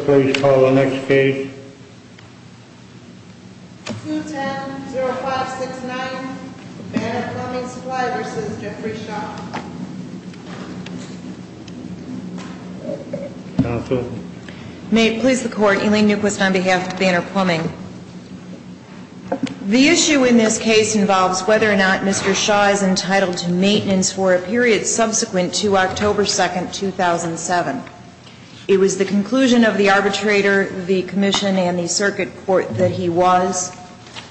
May it please the Court, Elaine Newquist on behalf of Banner Plumbing. The issue in this case involves whether or not Mr. Shaw is entitled to maintenance for a period subsequent to October 2, 2007. It was the conclusion of the arbitrator, the commission, and the circuit court that he was.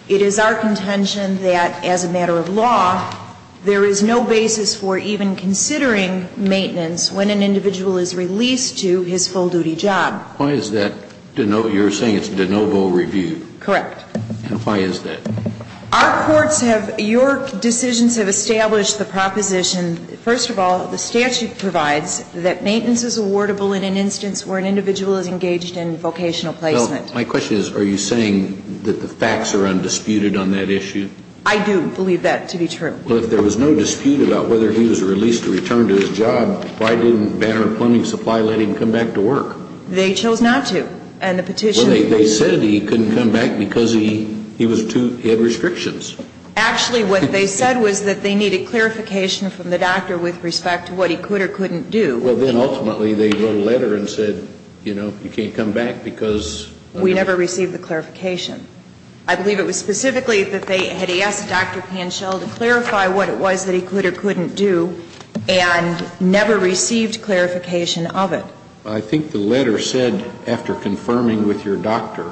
It is our contention that, as a matter of law, there is no basis for even considering maintenance when an individual is released to his full-duty job. Why is that? You're saying it's de novo review? Correct. And why is that? Our courts have – your decisions have established the proposition, first of all, the statute provides that maintenance is awardable in an instance where an individual is engaged in vocational placement. Well, my question is, are you saying that the facts are undisputed on that issue? I do believe that to be true. Well, if there was no dispute about whether he was released to return to his job, why didn't Banner Plumbing Supply let him come back to work? They chose not to. And the petition – Well, they said he couldn't come back because he was too – he had restrictions. Actually, what they said was that they needed clarification from the doctor with respect to what he could or couldn't do. Well, then ultimately they wrote a letter and said, you know, you can't come back because – We never received the clarification. I believe it was specifically that they had asked Dr. Panschel to clarify what it was that he could or couldn't do, and never received clarification of it. I think the letter said, after confirming with your doctor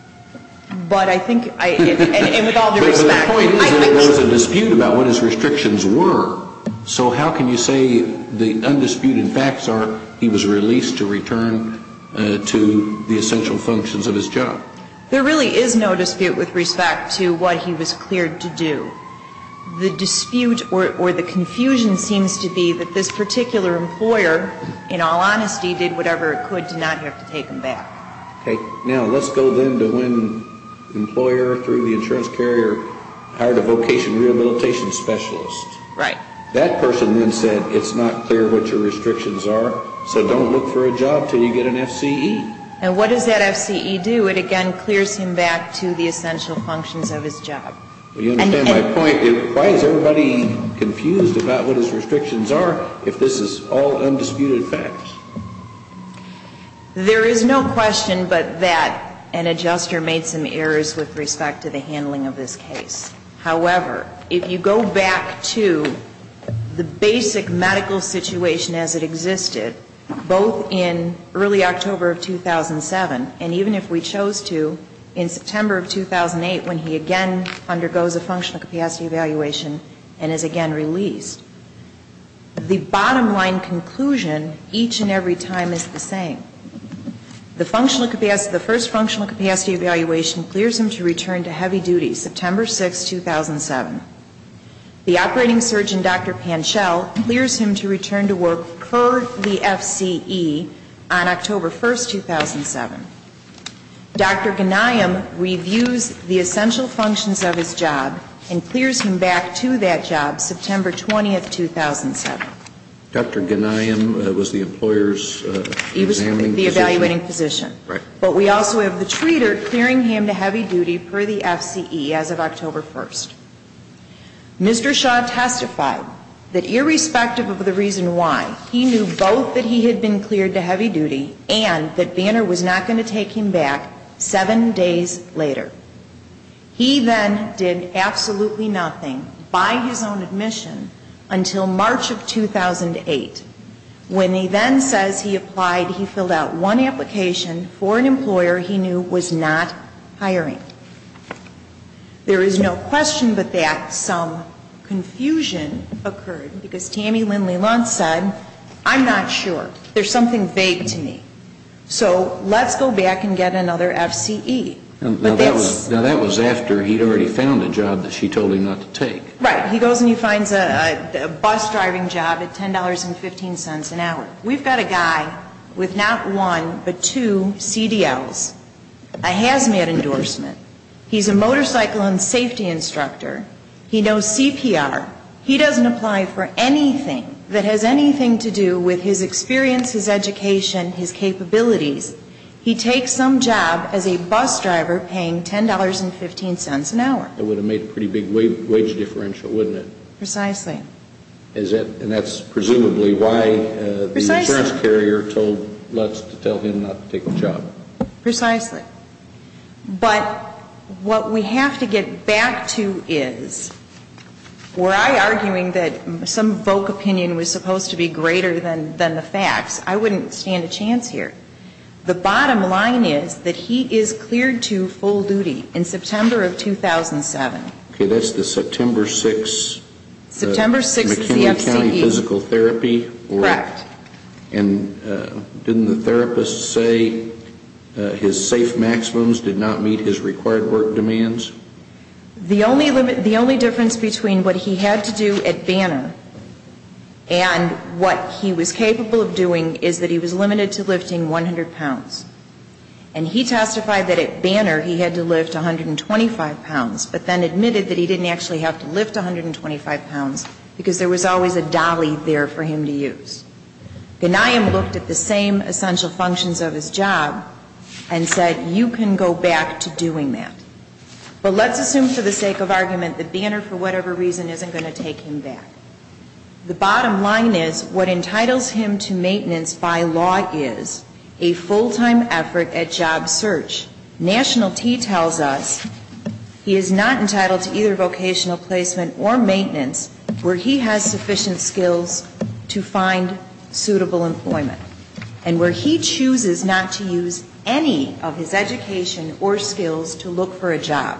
– But I think – and with all due respect – But the point is that there was a dispute about what his restrictions were. So how can you say the undisputed facts are he was released to return to the essential functions of his job? There really is no dispute with respect to what he was cleared to do. The dispute or the confusion seems to be that this particular employer, in all honesty, did whatever it could to not have to take him back. Okay. Now, let's go then to when the employer, through the insurance carrier, hired a vocation rehabilitation specialist. Right. That person then said, it's not clear what your restrictions are, so don't look for a job until you get an FCE. And what does that FCE do? It, again, clears him back to the essential functions of his job. You understand my point? Why is everybody confused about what his restrictions are, if this is all undisputed facts? There is no question but that an adjuster made some errors with respect to the handling of this case. However, if you go back to the basic medical situation as it existed, both in early October of 2007, and even if we chose to, in September of 2008, when he again undergoes a functional capacity evaluation and is again released, the bottom line conclusion each and every time is the same. The first functional capacity evaluation clears him to return to heavy duty, September 6, 2007. The operating surgeon, Dr. Panchel, clears him to return to work per the FCE on October 1, 2007. Dr. Ghanayem reviews the essential functions of his job and clears him back to that job, September 20, 2007. Dr. Ghanayem was the employer's examining physician? He was the evaluating physician. Right. But we also have the treater clearing him to heavy duty per the FCE as of October 1. Mr. Shaw testified that irrespective of the reason why, he knew both that he had been cleared to heavy duty and that Banner was not going to take him back seven days later. He then did absolutely nothing by his own admission until March of 2008. When he then says he applied, he filled out one application for an employer he knew was not hiring. There is no question but that some confusion occurred because Tammy Lindley-Luntz said, I'm not sure, there's something vague to me, so let's go back and get another FCE. Now that was after he'd already found a job that she told him not to take. Right. He goes and he finds a bus driving job at $10.15 an hour. We've got a guy with not one but two CDLs, a hazmat endorsement. He's a motorcycle and safety instructor. He knows CPR. He doesn't apply for anything that has anything to do with his experience, his education, his capabilities. He takes some job as a bus driver paying $10.15 an hour. It would have made a pretty big wage differential, wouldn't it? Precisely. And that's presumably why the insurance carrier told Luntz to tell him not to take the job. Precisely. But what we have to get back to is, were I arguing that some folk opinion was supposed to be greater than the facts, I wouldn't stand a chance here. The bottom line is that he is cleared to full duty in September of 2007. Okay, that's the September 6th. September 6th of the FCE. McKinley County Physical Therapy. Correct. And didn't the therapist say his safe maximums did not meet his required work demands? The only difference between what he had to do at Banner and what he was capable of doing is that he was limited to lifting 100 pounds. And he testified that at Banner he had to lift 125 pounds, but then admitted that he didn't actually have to lift 125 pounds because there was always a dolly there for him to use. Ghanayim looked at the same essential functions of his job and said, you can go back to doing that. But let's assume for the sake of argument that Banner, for whatever reason, isn't going to take him back. The bottom line is, what entitles him to maintenance by law is a full-time effort at job search. National T tells us he is not entitled to either vocational placement or maintenance where he has sufficient skills to find suitable employment. And where he chooses not to use any of his education or skills to look for a job,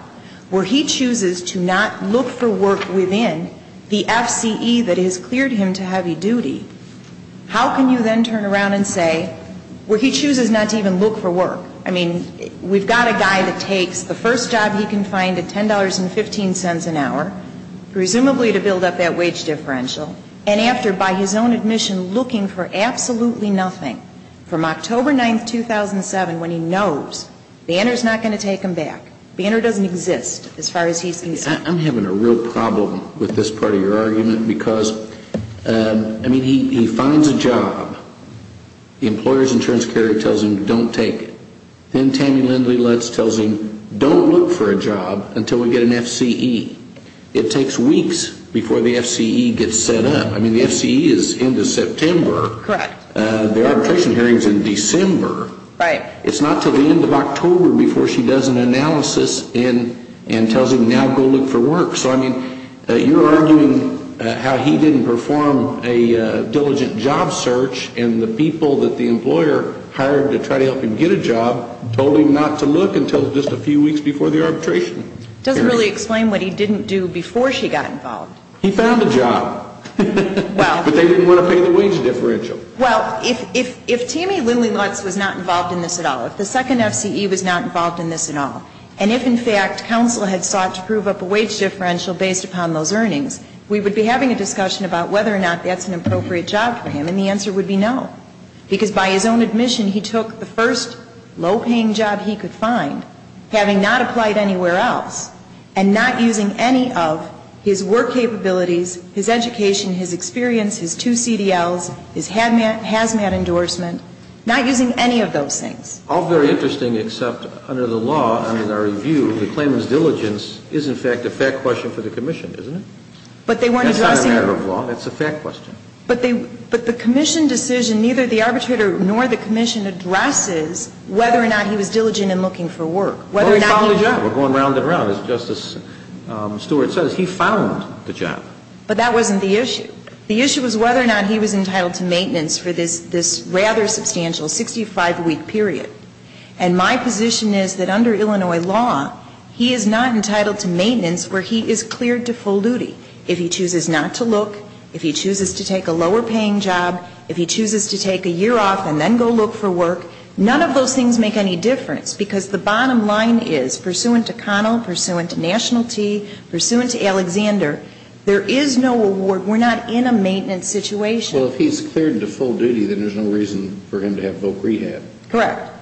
where he chooses to not look for work within the FCE that has cleared him to heavy duty, how can you then turn around and say where he chooses not to even look for work? I mean, we've got a guy that takes the first job he can find at $10.15 an hour, presumably to build up that wage differential, and after, by his own admission, looking for absolutely nothing from October 9, 2007, when he knows Banner is not going to take him back. Banner doesn't exist as far as he's concerned. I'm having a real problem with this part of your argument because, I mean, he finds a job. The employer's insurance carrier tells him don't take it. Then Tammy Lindley Lutz tells him don't look for a job until we get an FCE. It takes weeks before the FCE gets set up. I mean, the FCE is into September. Correct. The arbitration hearing is in December. Right. It's not until the end of October before she does an analysis and tells him now go look for work. So, I mean, you're arguing how he didn't perform a diligent job search, and the people that the employer hired to try to help him get a job told him not to look until just a few weeks before the arbitration. It doesn't really explain what he didn't do before she got involved. He found a job. But they didn't want to pay the wage differential. Well, if Tammy Lindley Lutz was not involved in this at all, if the second FCE was not involved in this at all, and if, in fact, counsel had sought to prove up a wage differential based upon those earnings, we would be having a discussion about whether or not that's an appropriate job for him, and the answer would be no. Because by his own admission, he took the first low-paying job he could find, having not applied anywhere else, and not using any of his work capabilities, his education, his experience, his two CDLs, his HAZMAT endorsement, not using any of those things. All very interesting, except under the law, under the review, the claimant's diligence is, in fact, a fact question for the commission, isn't it? But they weren't addressing it. That's not a matter of law. That's a fact question. But the commission decision, neither the arbitrator nor the commission addresses whether or not he was diligent in looking for work. Well, he found a job. We're going round and round. As Justice Stewart says, he found the job. But that wasn't the issue. The issue was whether or not he was entitled to maintenance for this rather substantial 65-week period. And my position is that under Illinois law, he is not entitled to maintenance where he is cleared to full duty. If he chooses not to look, if he chooses to take a lower-paying job, if he chooses to take a year off and then go look for work, none of those things make any difference, because the bottom line is, pursuant to Connell, pursuant to Nationalty, pursuant to Alexander, there is no award. We're not in a maintenance situation. Well, if he's cleared to full duty, then there's no reason for him to have voc rehab. Correct.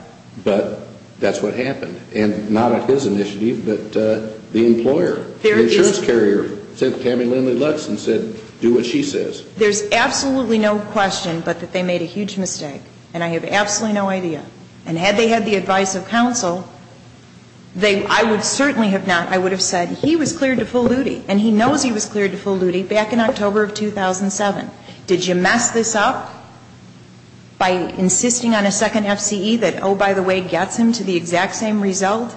But that's what happened. And not at his initiative, but the employer, the insurance carrier sent Tammy Lindley-Lutz and said, do what she says. There's absolutely no question but that they made a huge mistake, and I have absolutely no idea. And had they had the advice of counsel, I would certainly have not. I would have said, he was cleared to full duty, and he knows he was cleared to full duty back in October of 2007. Did you mess this up by insisting on a second FCE that, oh, by the way, gets him to the exact same result?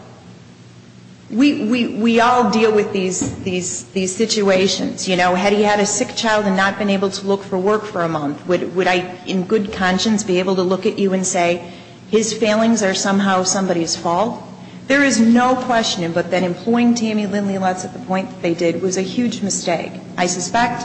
We all deal with these situations. You know, had he had a sick child and not been able to look for work for a month, would I in good conscience be able to look at you and say, his failings are somehow somebody's fault? There is no question but that employing Tammy Lindley-Lutz at the point that they did was a huge mistake. I suspect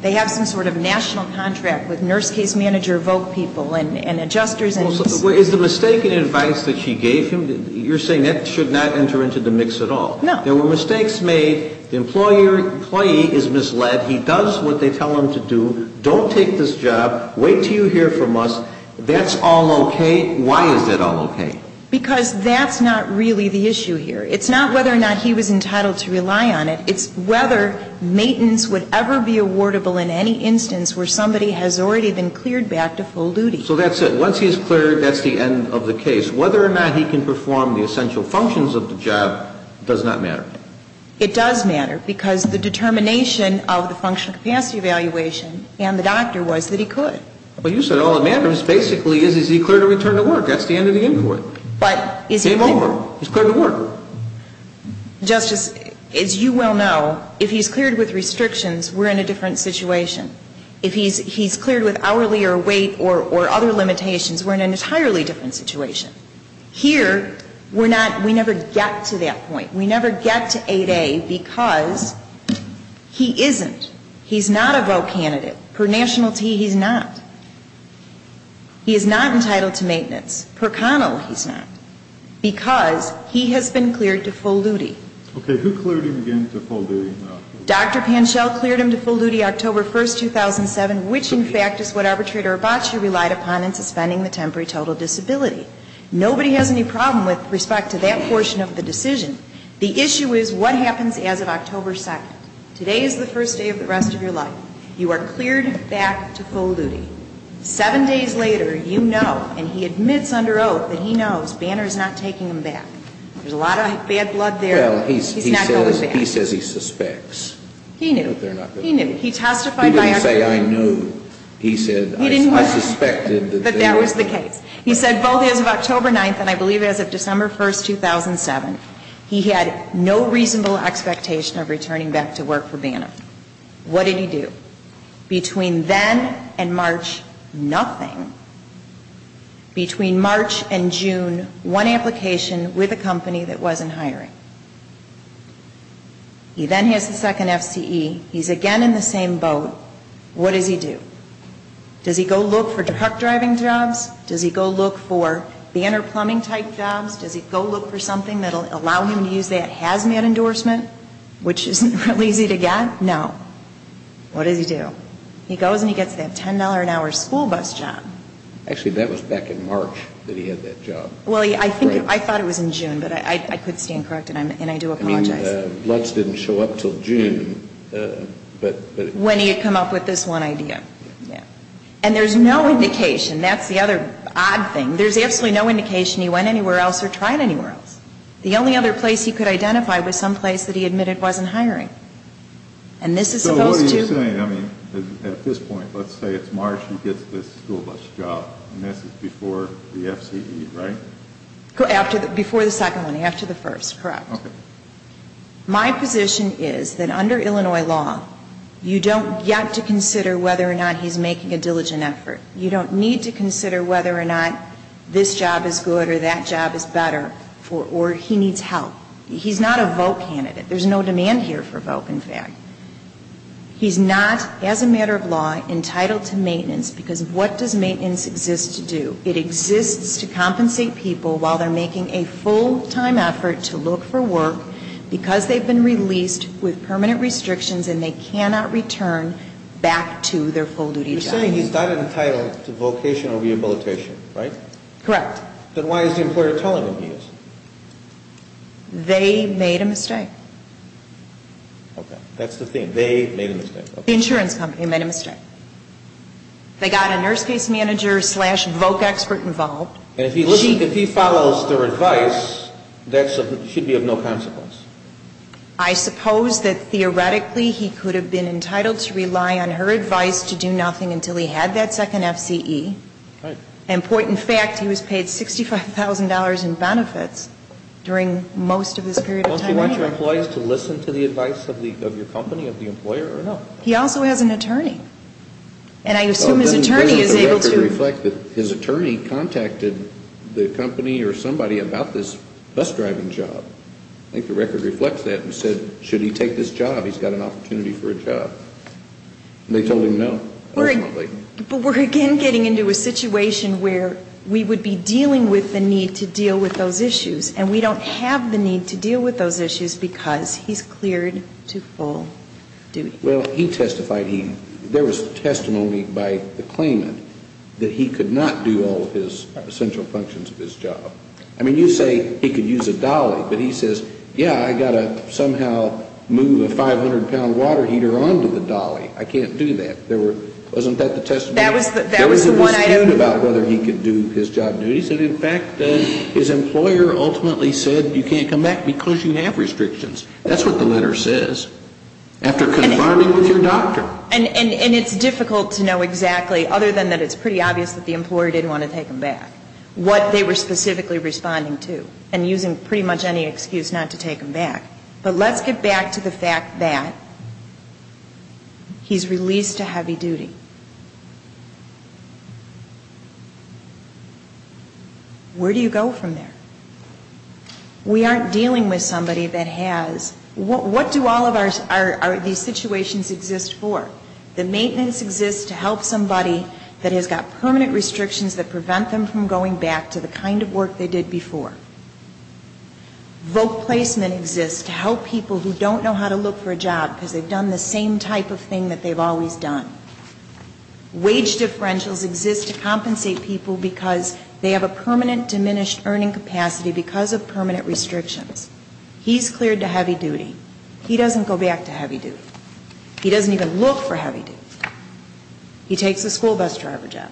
they have some sort of national contract with nurse case manager voc people and adjusters. Is the mistaken advice that she gave him, you're saying that should not enter into the mix at all? No. There were mistakes made. The employee is misled. He does what they tell him to do. Don't take this job. Wait until you hear from us. That's all okay? Why is that all okay? Because that's not really the issue here. It's not whether or not he was entitled to rely on it. It's whether maintenance would ever be awardable in any instance where somebody has already been cleared back to full duty. So that's it. Once he's cleared, that's the end of the case. Whether or not he can perform the essential functions of the job does not matter. It does matter because the determination of the functional capacity evaluation and the doctor was that he could. Well, you said all that matters basically is, is he cleared to return to work? That's the end of the inquiry. Game over. He's cleared to work. Justice, as you well know, if he's cleared with restrictions, we're in a different situation. If he's cleared with hourly or wait or other limitations, we're in an entirely different situation. Here, we're not, we never get to that point. We never get to 8A because he isn't. He's not a vote candidate. Per nationality, he's not. He is not entitled to maintenance. Per Connell, he's not. Because he has been cleared to full duty. Okay. Who cleared him again to full duty in October? Dr. Panschel cleared him to full duty October 1st, 2007, which in fact is what Arbitrator Arbacci relied upon in suspending the temporary total disability. Nobody has any problem with respect to that portion of the decision. The issue is what happens as of October 2nd. Today is the first day of the rest of your life. You are cleared back to full duty. Seven days later, you know, and he admits under oath that he knows, Banner is not taking him back. There's a lot of bad blood there. Well, he says he suspects. He knew. He knew. He testified. He didn't say I knew. He said I suspected. But that was the case. He said both as of October 9th and I believe as of December 1st, 2007, he had no reasonable expectation of returning back to work for Banner. What did he do? Between then and March, nothing. Between March and June, one application with a company that wasn't hiring. He then has the second FCE. He's again in the same boat. What does he do? Does he go look for truck driving jobs? Does he go look for Banner plumbing type jobs? Does he go look for something that will allow him to use that hazmat endorsement, which isn't really easy to get? No. What does he do? He goes and he gets that $10 an hour school bus job. Actually, that was back in March that he had that job. Well, I think, I thought it was in June, but I could stand corrected and I do apologize. I mean, Lutz didn't show up until June, but. When he had come up with this one idea. Yeah. And there's no indication. That's the other odd thing. There's absolutely no indication he went anywhere else or tried anywhere else. The only other place he could identify was someplace that he admitted wasn't hiring. And this is supposed to. So what are you saying? I mean, at this point, let's say it's March, he gets this school bus job. And this is before the FCE, right? Before the second one. After the first. Correct. Okay. My position is that under Illinois law, you don't get to consider whether or not he's making a diligent effort. You don't need to consider whether or not this job is good or that job is better or he needs help. He's not a vote candidate. There's no demand here for vote, in fact. He's not, as a matter of law, entitled to maintenance because what does maintenance exist to do? It exists to compensate people while they're making a full-time effort to look for work because they've been released with permanent restrictions and they cannot return back to their full-duty job. So you're saying he's not entitled to vocational rehabilitation, right? Correct. Then why is the employer telling him he is? They made a mistake. Okay. That's the thing. They made a mistake. The insurance company made a mistake. They got a nurse case manager-slash-vote expert involved. And if he follows their advice, that should be of no consequence. I suppose that theoretically he could have been entitled to rely on her advice to do nothing until he had that second FCE. Right. And point in fact, he was paid $65,000 in benefits during most of this period of time anyway. Don't you want your employees to listen to the advice of your company, of the employer, or no? He also has an attorney. And I assume his attorney is able to- Doesn't the record reflect that his attorney contacted the company or somebody about this bus-driving job? I think the record reflects that and said, should he take this job? He's got an opportunity for a job. And they told him no, ultimately. But we're again getting into a situation where we would be dealing with the need to deal with those issues. And we don't have the need to deal with those issues because he's cleared to full duty. Well, he testified he-there was testimony by the claimant that he could not do all of his essential functions of his job. I mean, you say he could use a dolly. But he says, yeah, I've got to somehow move a 500-pound water heater onto the dolly. I can't do that. Wasn't that the testimony? That was the one item- There was a dispute about whether he could do his job duties. And in fact, his employer ultimately said you can't come back because you have restrictions. That's what the letter says. After confirming with your doctor. And it's difficult to know exactly, other than that it's pretty obvious that the employer didn't want to take him back. What they were specifically responding to. And using pretty much any excuse not to take him back. But let's get back to the fact that he's released to heavy duty. Where do you go from there? We aren't dealing with somebody that has-what do all of our-these situations exist for? The maintenance exists to help somebody that has got permanent restrictions that prevent them from going back to the kind of work they did before. Vote placement exists to help people who don't know how to look for a job because they've done the same type of thing that they've always done. Wage differentials exist to compensate people because they have a permanent diminished earning capacity because of permanent restrictions. He's cleared to heavy duty. He doesn't go back to heavy duty. He doesn't even look for heavy duty. He takes a school bus driver job.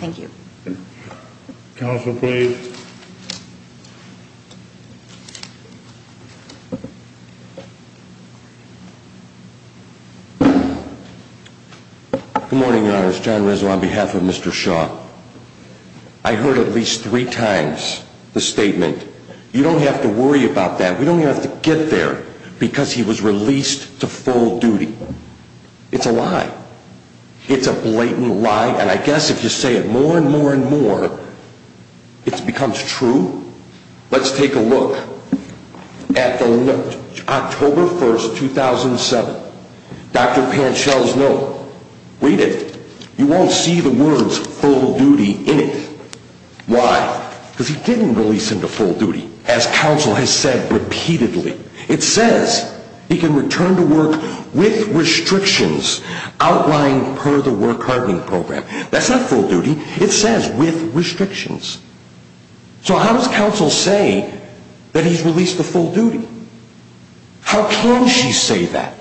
Thank you. Counsel, please. Good morning, Your Honors. John Rizzo on behalf of Mr. Shaw. I heard at least three times the statement. You don't have to worry about that. We don't have to get there because he was released to full duty. It's a lie. It's a blatant lie. And I guess if you say it more and more and more, it becomes true. Let's take a look at October 1, 2007. Dr. Panchel's note. Read it. You won't see the words full duty in it. Why? Because he didn't release him to full duty, as counsel has said repeatedly. It says he can return to work with restrictions outlined per the work hardening program. That's not full duty. It says with restrictions. So how does counsel say that he's released to full duty? How can she say that?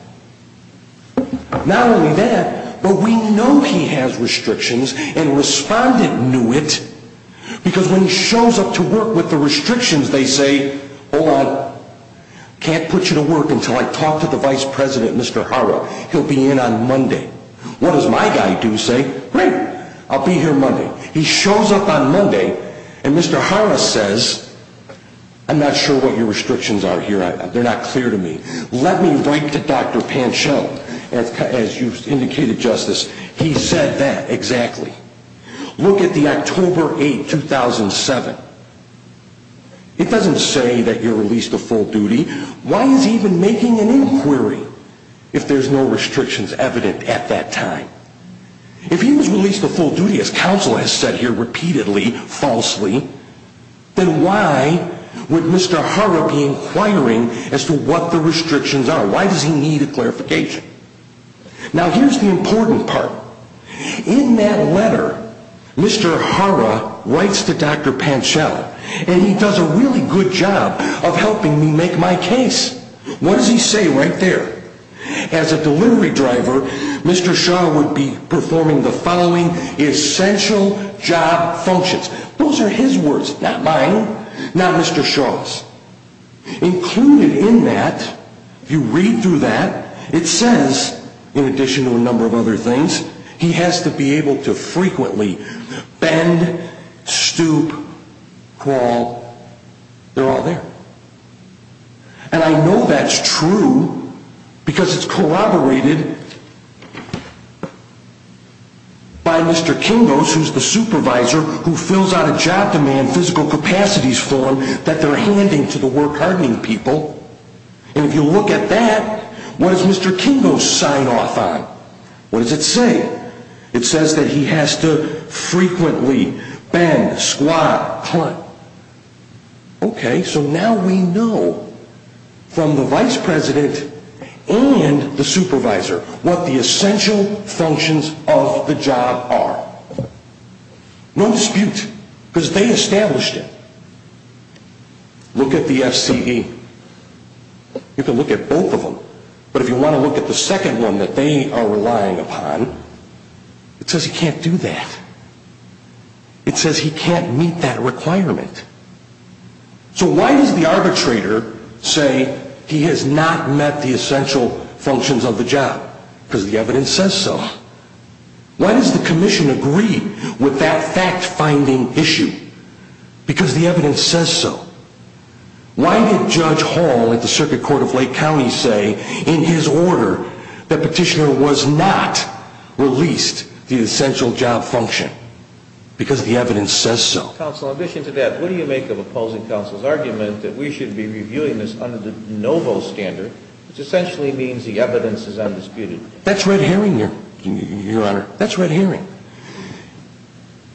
Not only that, but we know he has restrictions and a respondent knew it. Because when he shows up to work with the restrictions, they say, hold on, can't put you to work until I talk to the vice president, Mr. Hara. He'll be in on Monday. What does my guy do? Say, great, I'll be here Monday. He shows up on Monday and Mr. Hara says, I'm not sure what your restrictions are here. They're not clear to me. Let me write to Dr. Pancho, as you've indicated, Justice. He said that exactly. Look at the October 8, 2007. It doesn't say that you're released to full duty. Why is he even making an inquiry if there's no restrictions evident at that time? If he was released to full duty, as counsel has said here repeatedly, falsely, then why would Mr. Hara be inquiring as to what the restrictions are? Why does he need a clarification? Now, here's the important part. In that letter, Mr. Hara writes to Dr. Pancho, and he does a really good job of helping me make my case. What does he say right there? As a delivery driver, Mr. Shah would be performing the following essential job functions. Those are his words, not mine, not Mr. Shah's. Included in that, if you read through that, it says, in addition to a number of other things, he has to be able to frequently bend, stoop, crawl. They're all there. And I know that's true because it's corroborated by Mr. Kingos, who's the supervisor who fills out a job demand physical capacities form that they're handing to the work hardening people. And if you look at that, what does Mr. Kingos sign off on? What does it say? It says that he has to frequently bend, squat, clunk. Okay, so now we know, from the vice president and the supervisor, what the essential functions of the job are. No dispute, because they established it. Look at the FCE. You can look at both of them, but if you want to look at the second one that they are relying upon, it says he can't do that. It says he can't meet that requirement. So why does the arbitrator say he has not met the essential functions of the job? Because the evidence says so. Why does the commission agree with that fact-finding issue? Because the evidence says so. Why did Judge Hall at the Circuit Court of Lake County say, in his order, that petitioner was not released the essential job function? Because the evidence says so. Counsel, in addition to that, what do you make of opposing counsel's argument that we should be reviewing this under the de novo standard, which essentially means the evidence is undisputed? That's red herring, Your Honor. That's red herring.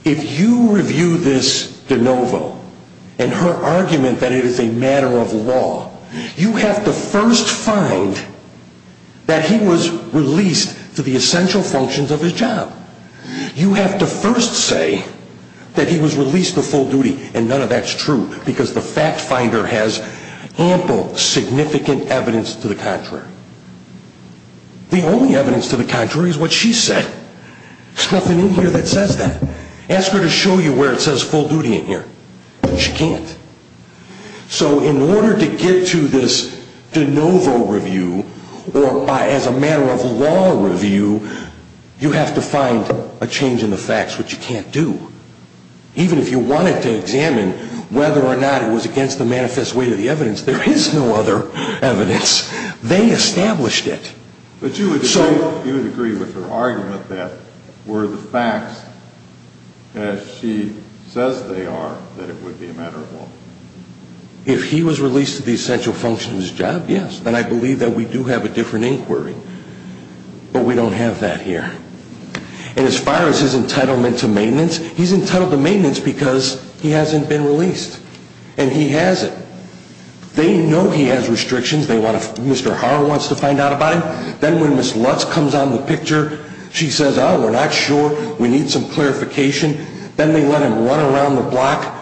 If you review this de novo, and her argument that it is a matter of law, you have to first find that he was released to the essential functions of his job. You have to first say that he was released to full duty, and none of that is true, because the fact-finder has ample, significant evidence to the contrary. The only evidence to the contrary is what she said. There's nothing in here that says that. Ask her to show you where it says full duty in here. She can't. So in order to get to this de novo review, or as a matter of law review, you have to find a change in the facts, which you can't do. Even if you wanted to examine whether or not it was against the manifest weight of the evidence, there is no other evidence. They established it. But you would agree with her argument that were the facts as she says they are, that it would be a matter of law? If he was released to the essential functions of his job, yes. Then I believe that we do have a different inquiry. But we don't have that here. And as far as his entitlement to maintenance, he's entitled to maintenance because he hasn't been released. And he hasn't. They know he has restrictions. Mr. Harr wants to find out about him. Then when Ms. Lutz comes on the picture, she says, oh, we're not sure. We need some clarification. Then they let him run around the block.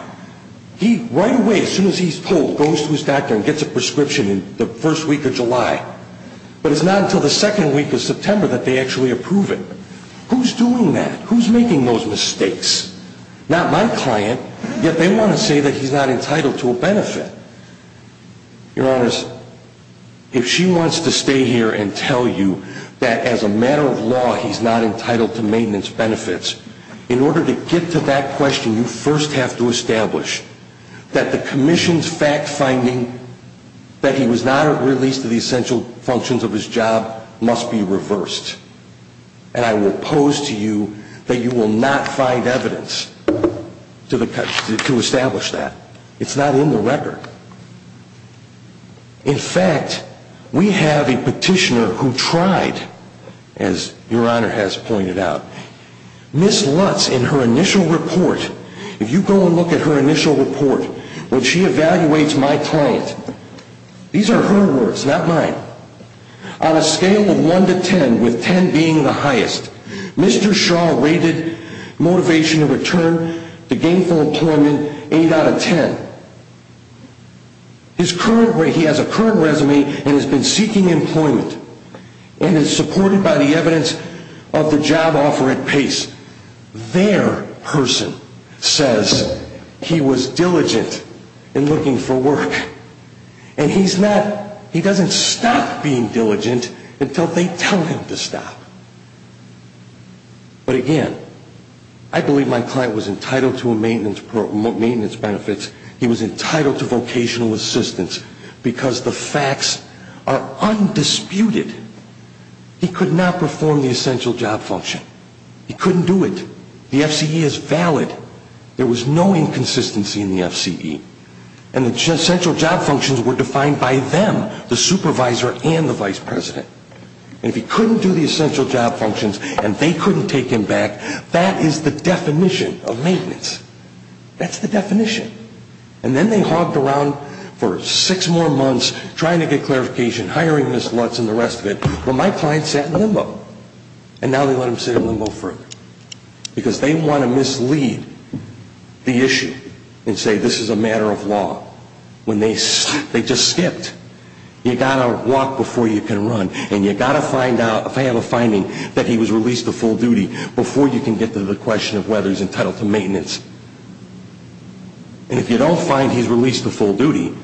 He, right away, as soon as he's told, goes to his doctor and gets a prescription in the first week of July. But it's not until the second week of September that they actually approve it. Who's doing that? Who's making those mistakes? Not my client. Yet they want to say that he's not entitled to a benefit. Your Honors, if she wants to stay here and tell you that as a matter of law he's not entitled to maintenance benefits, in order to get to that question, you first have to establish that the commission's fact finding that he was not released to the essential functions of his job must be reversed. And I will pose to you that you will not find evidence to establish that. It's not in the record. In fact, we have a petitioner who tried, as Your Honor has pointed out, Ms. Lutz, in her initial report, if you go and look at her initial report, when she evaluates my client, these are her words, not mine, on a scale of 1 to 10, with 10 being the highest, Mr. Shaw rated motivation to return to gainful employment 8 out of 10. He has a current resume and has been seeking employment and is supported by the evidence of the job offer at PACE. Their person says he was diligent in looking for work. And he's not, he doesn't stop being diligent until they tell him to stop. But again, I believe my client was entitled to maintenance benefits. He was entitled to vocational assistance because the facts are undisputed. He could not perform the essential job function. He couldn't do it. The FCE is valid. There was no inconsistency in the FCE. And the essential job functions were defined by them, the supervisor and the vice president. And if he couldn't do the essential job functions and they couldn't take him back, that is the definition of maintenance. That's the definition. And then they hogged around for six more months trying to get clarification, hiring Ms. Lutz and the rest of it, but my client sat in limbo. And now they let him sit in limbo further. Because they want to mislead the issue and say this is a matter of law. When they just skipped, you've got to walk before you can run. And you've got to have a finding that he was released to full duty before you can get to the question of whether he's entitled to maintenance. And if you don't find he's released to full duty,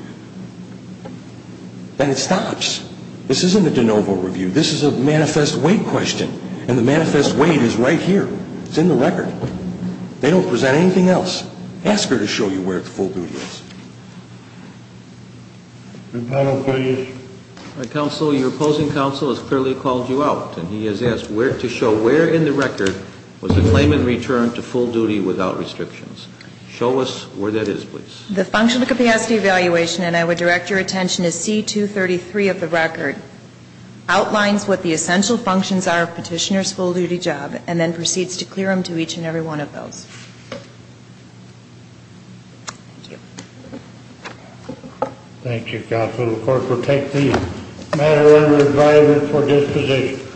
then it stops. This isn't a de novo review. This is a manifest wait question. And the manifest wait is right here. It's in the record. They don't present anything else. Ask her to show you where the full duty is. Counsel, your opposing counsel has clearly called you out, and he has asked to show where in the record was the claimant returned to full duty without restrictions. Show us where that is, please. The functional capacity evaluation, and I would direct your attention to C233 of the record, outlines what the essential functions are of petitioner's full duty job and then proceeds to clear them to each and every one of those. Thank you. Thank you, counsel. The court will take the matter under review for disposition.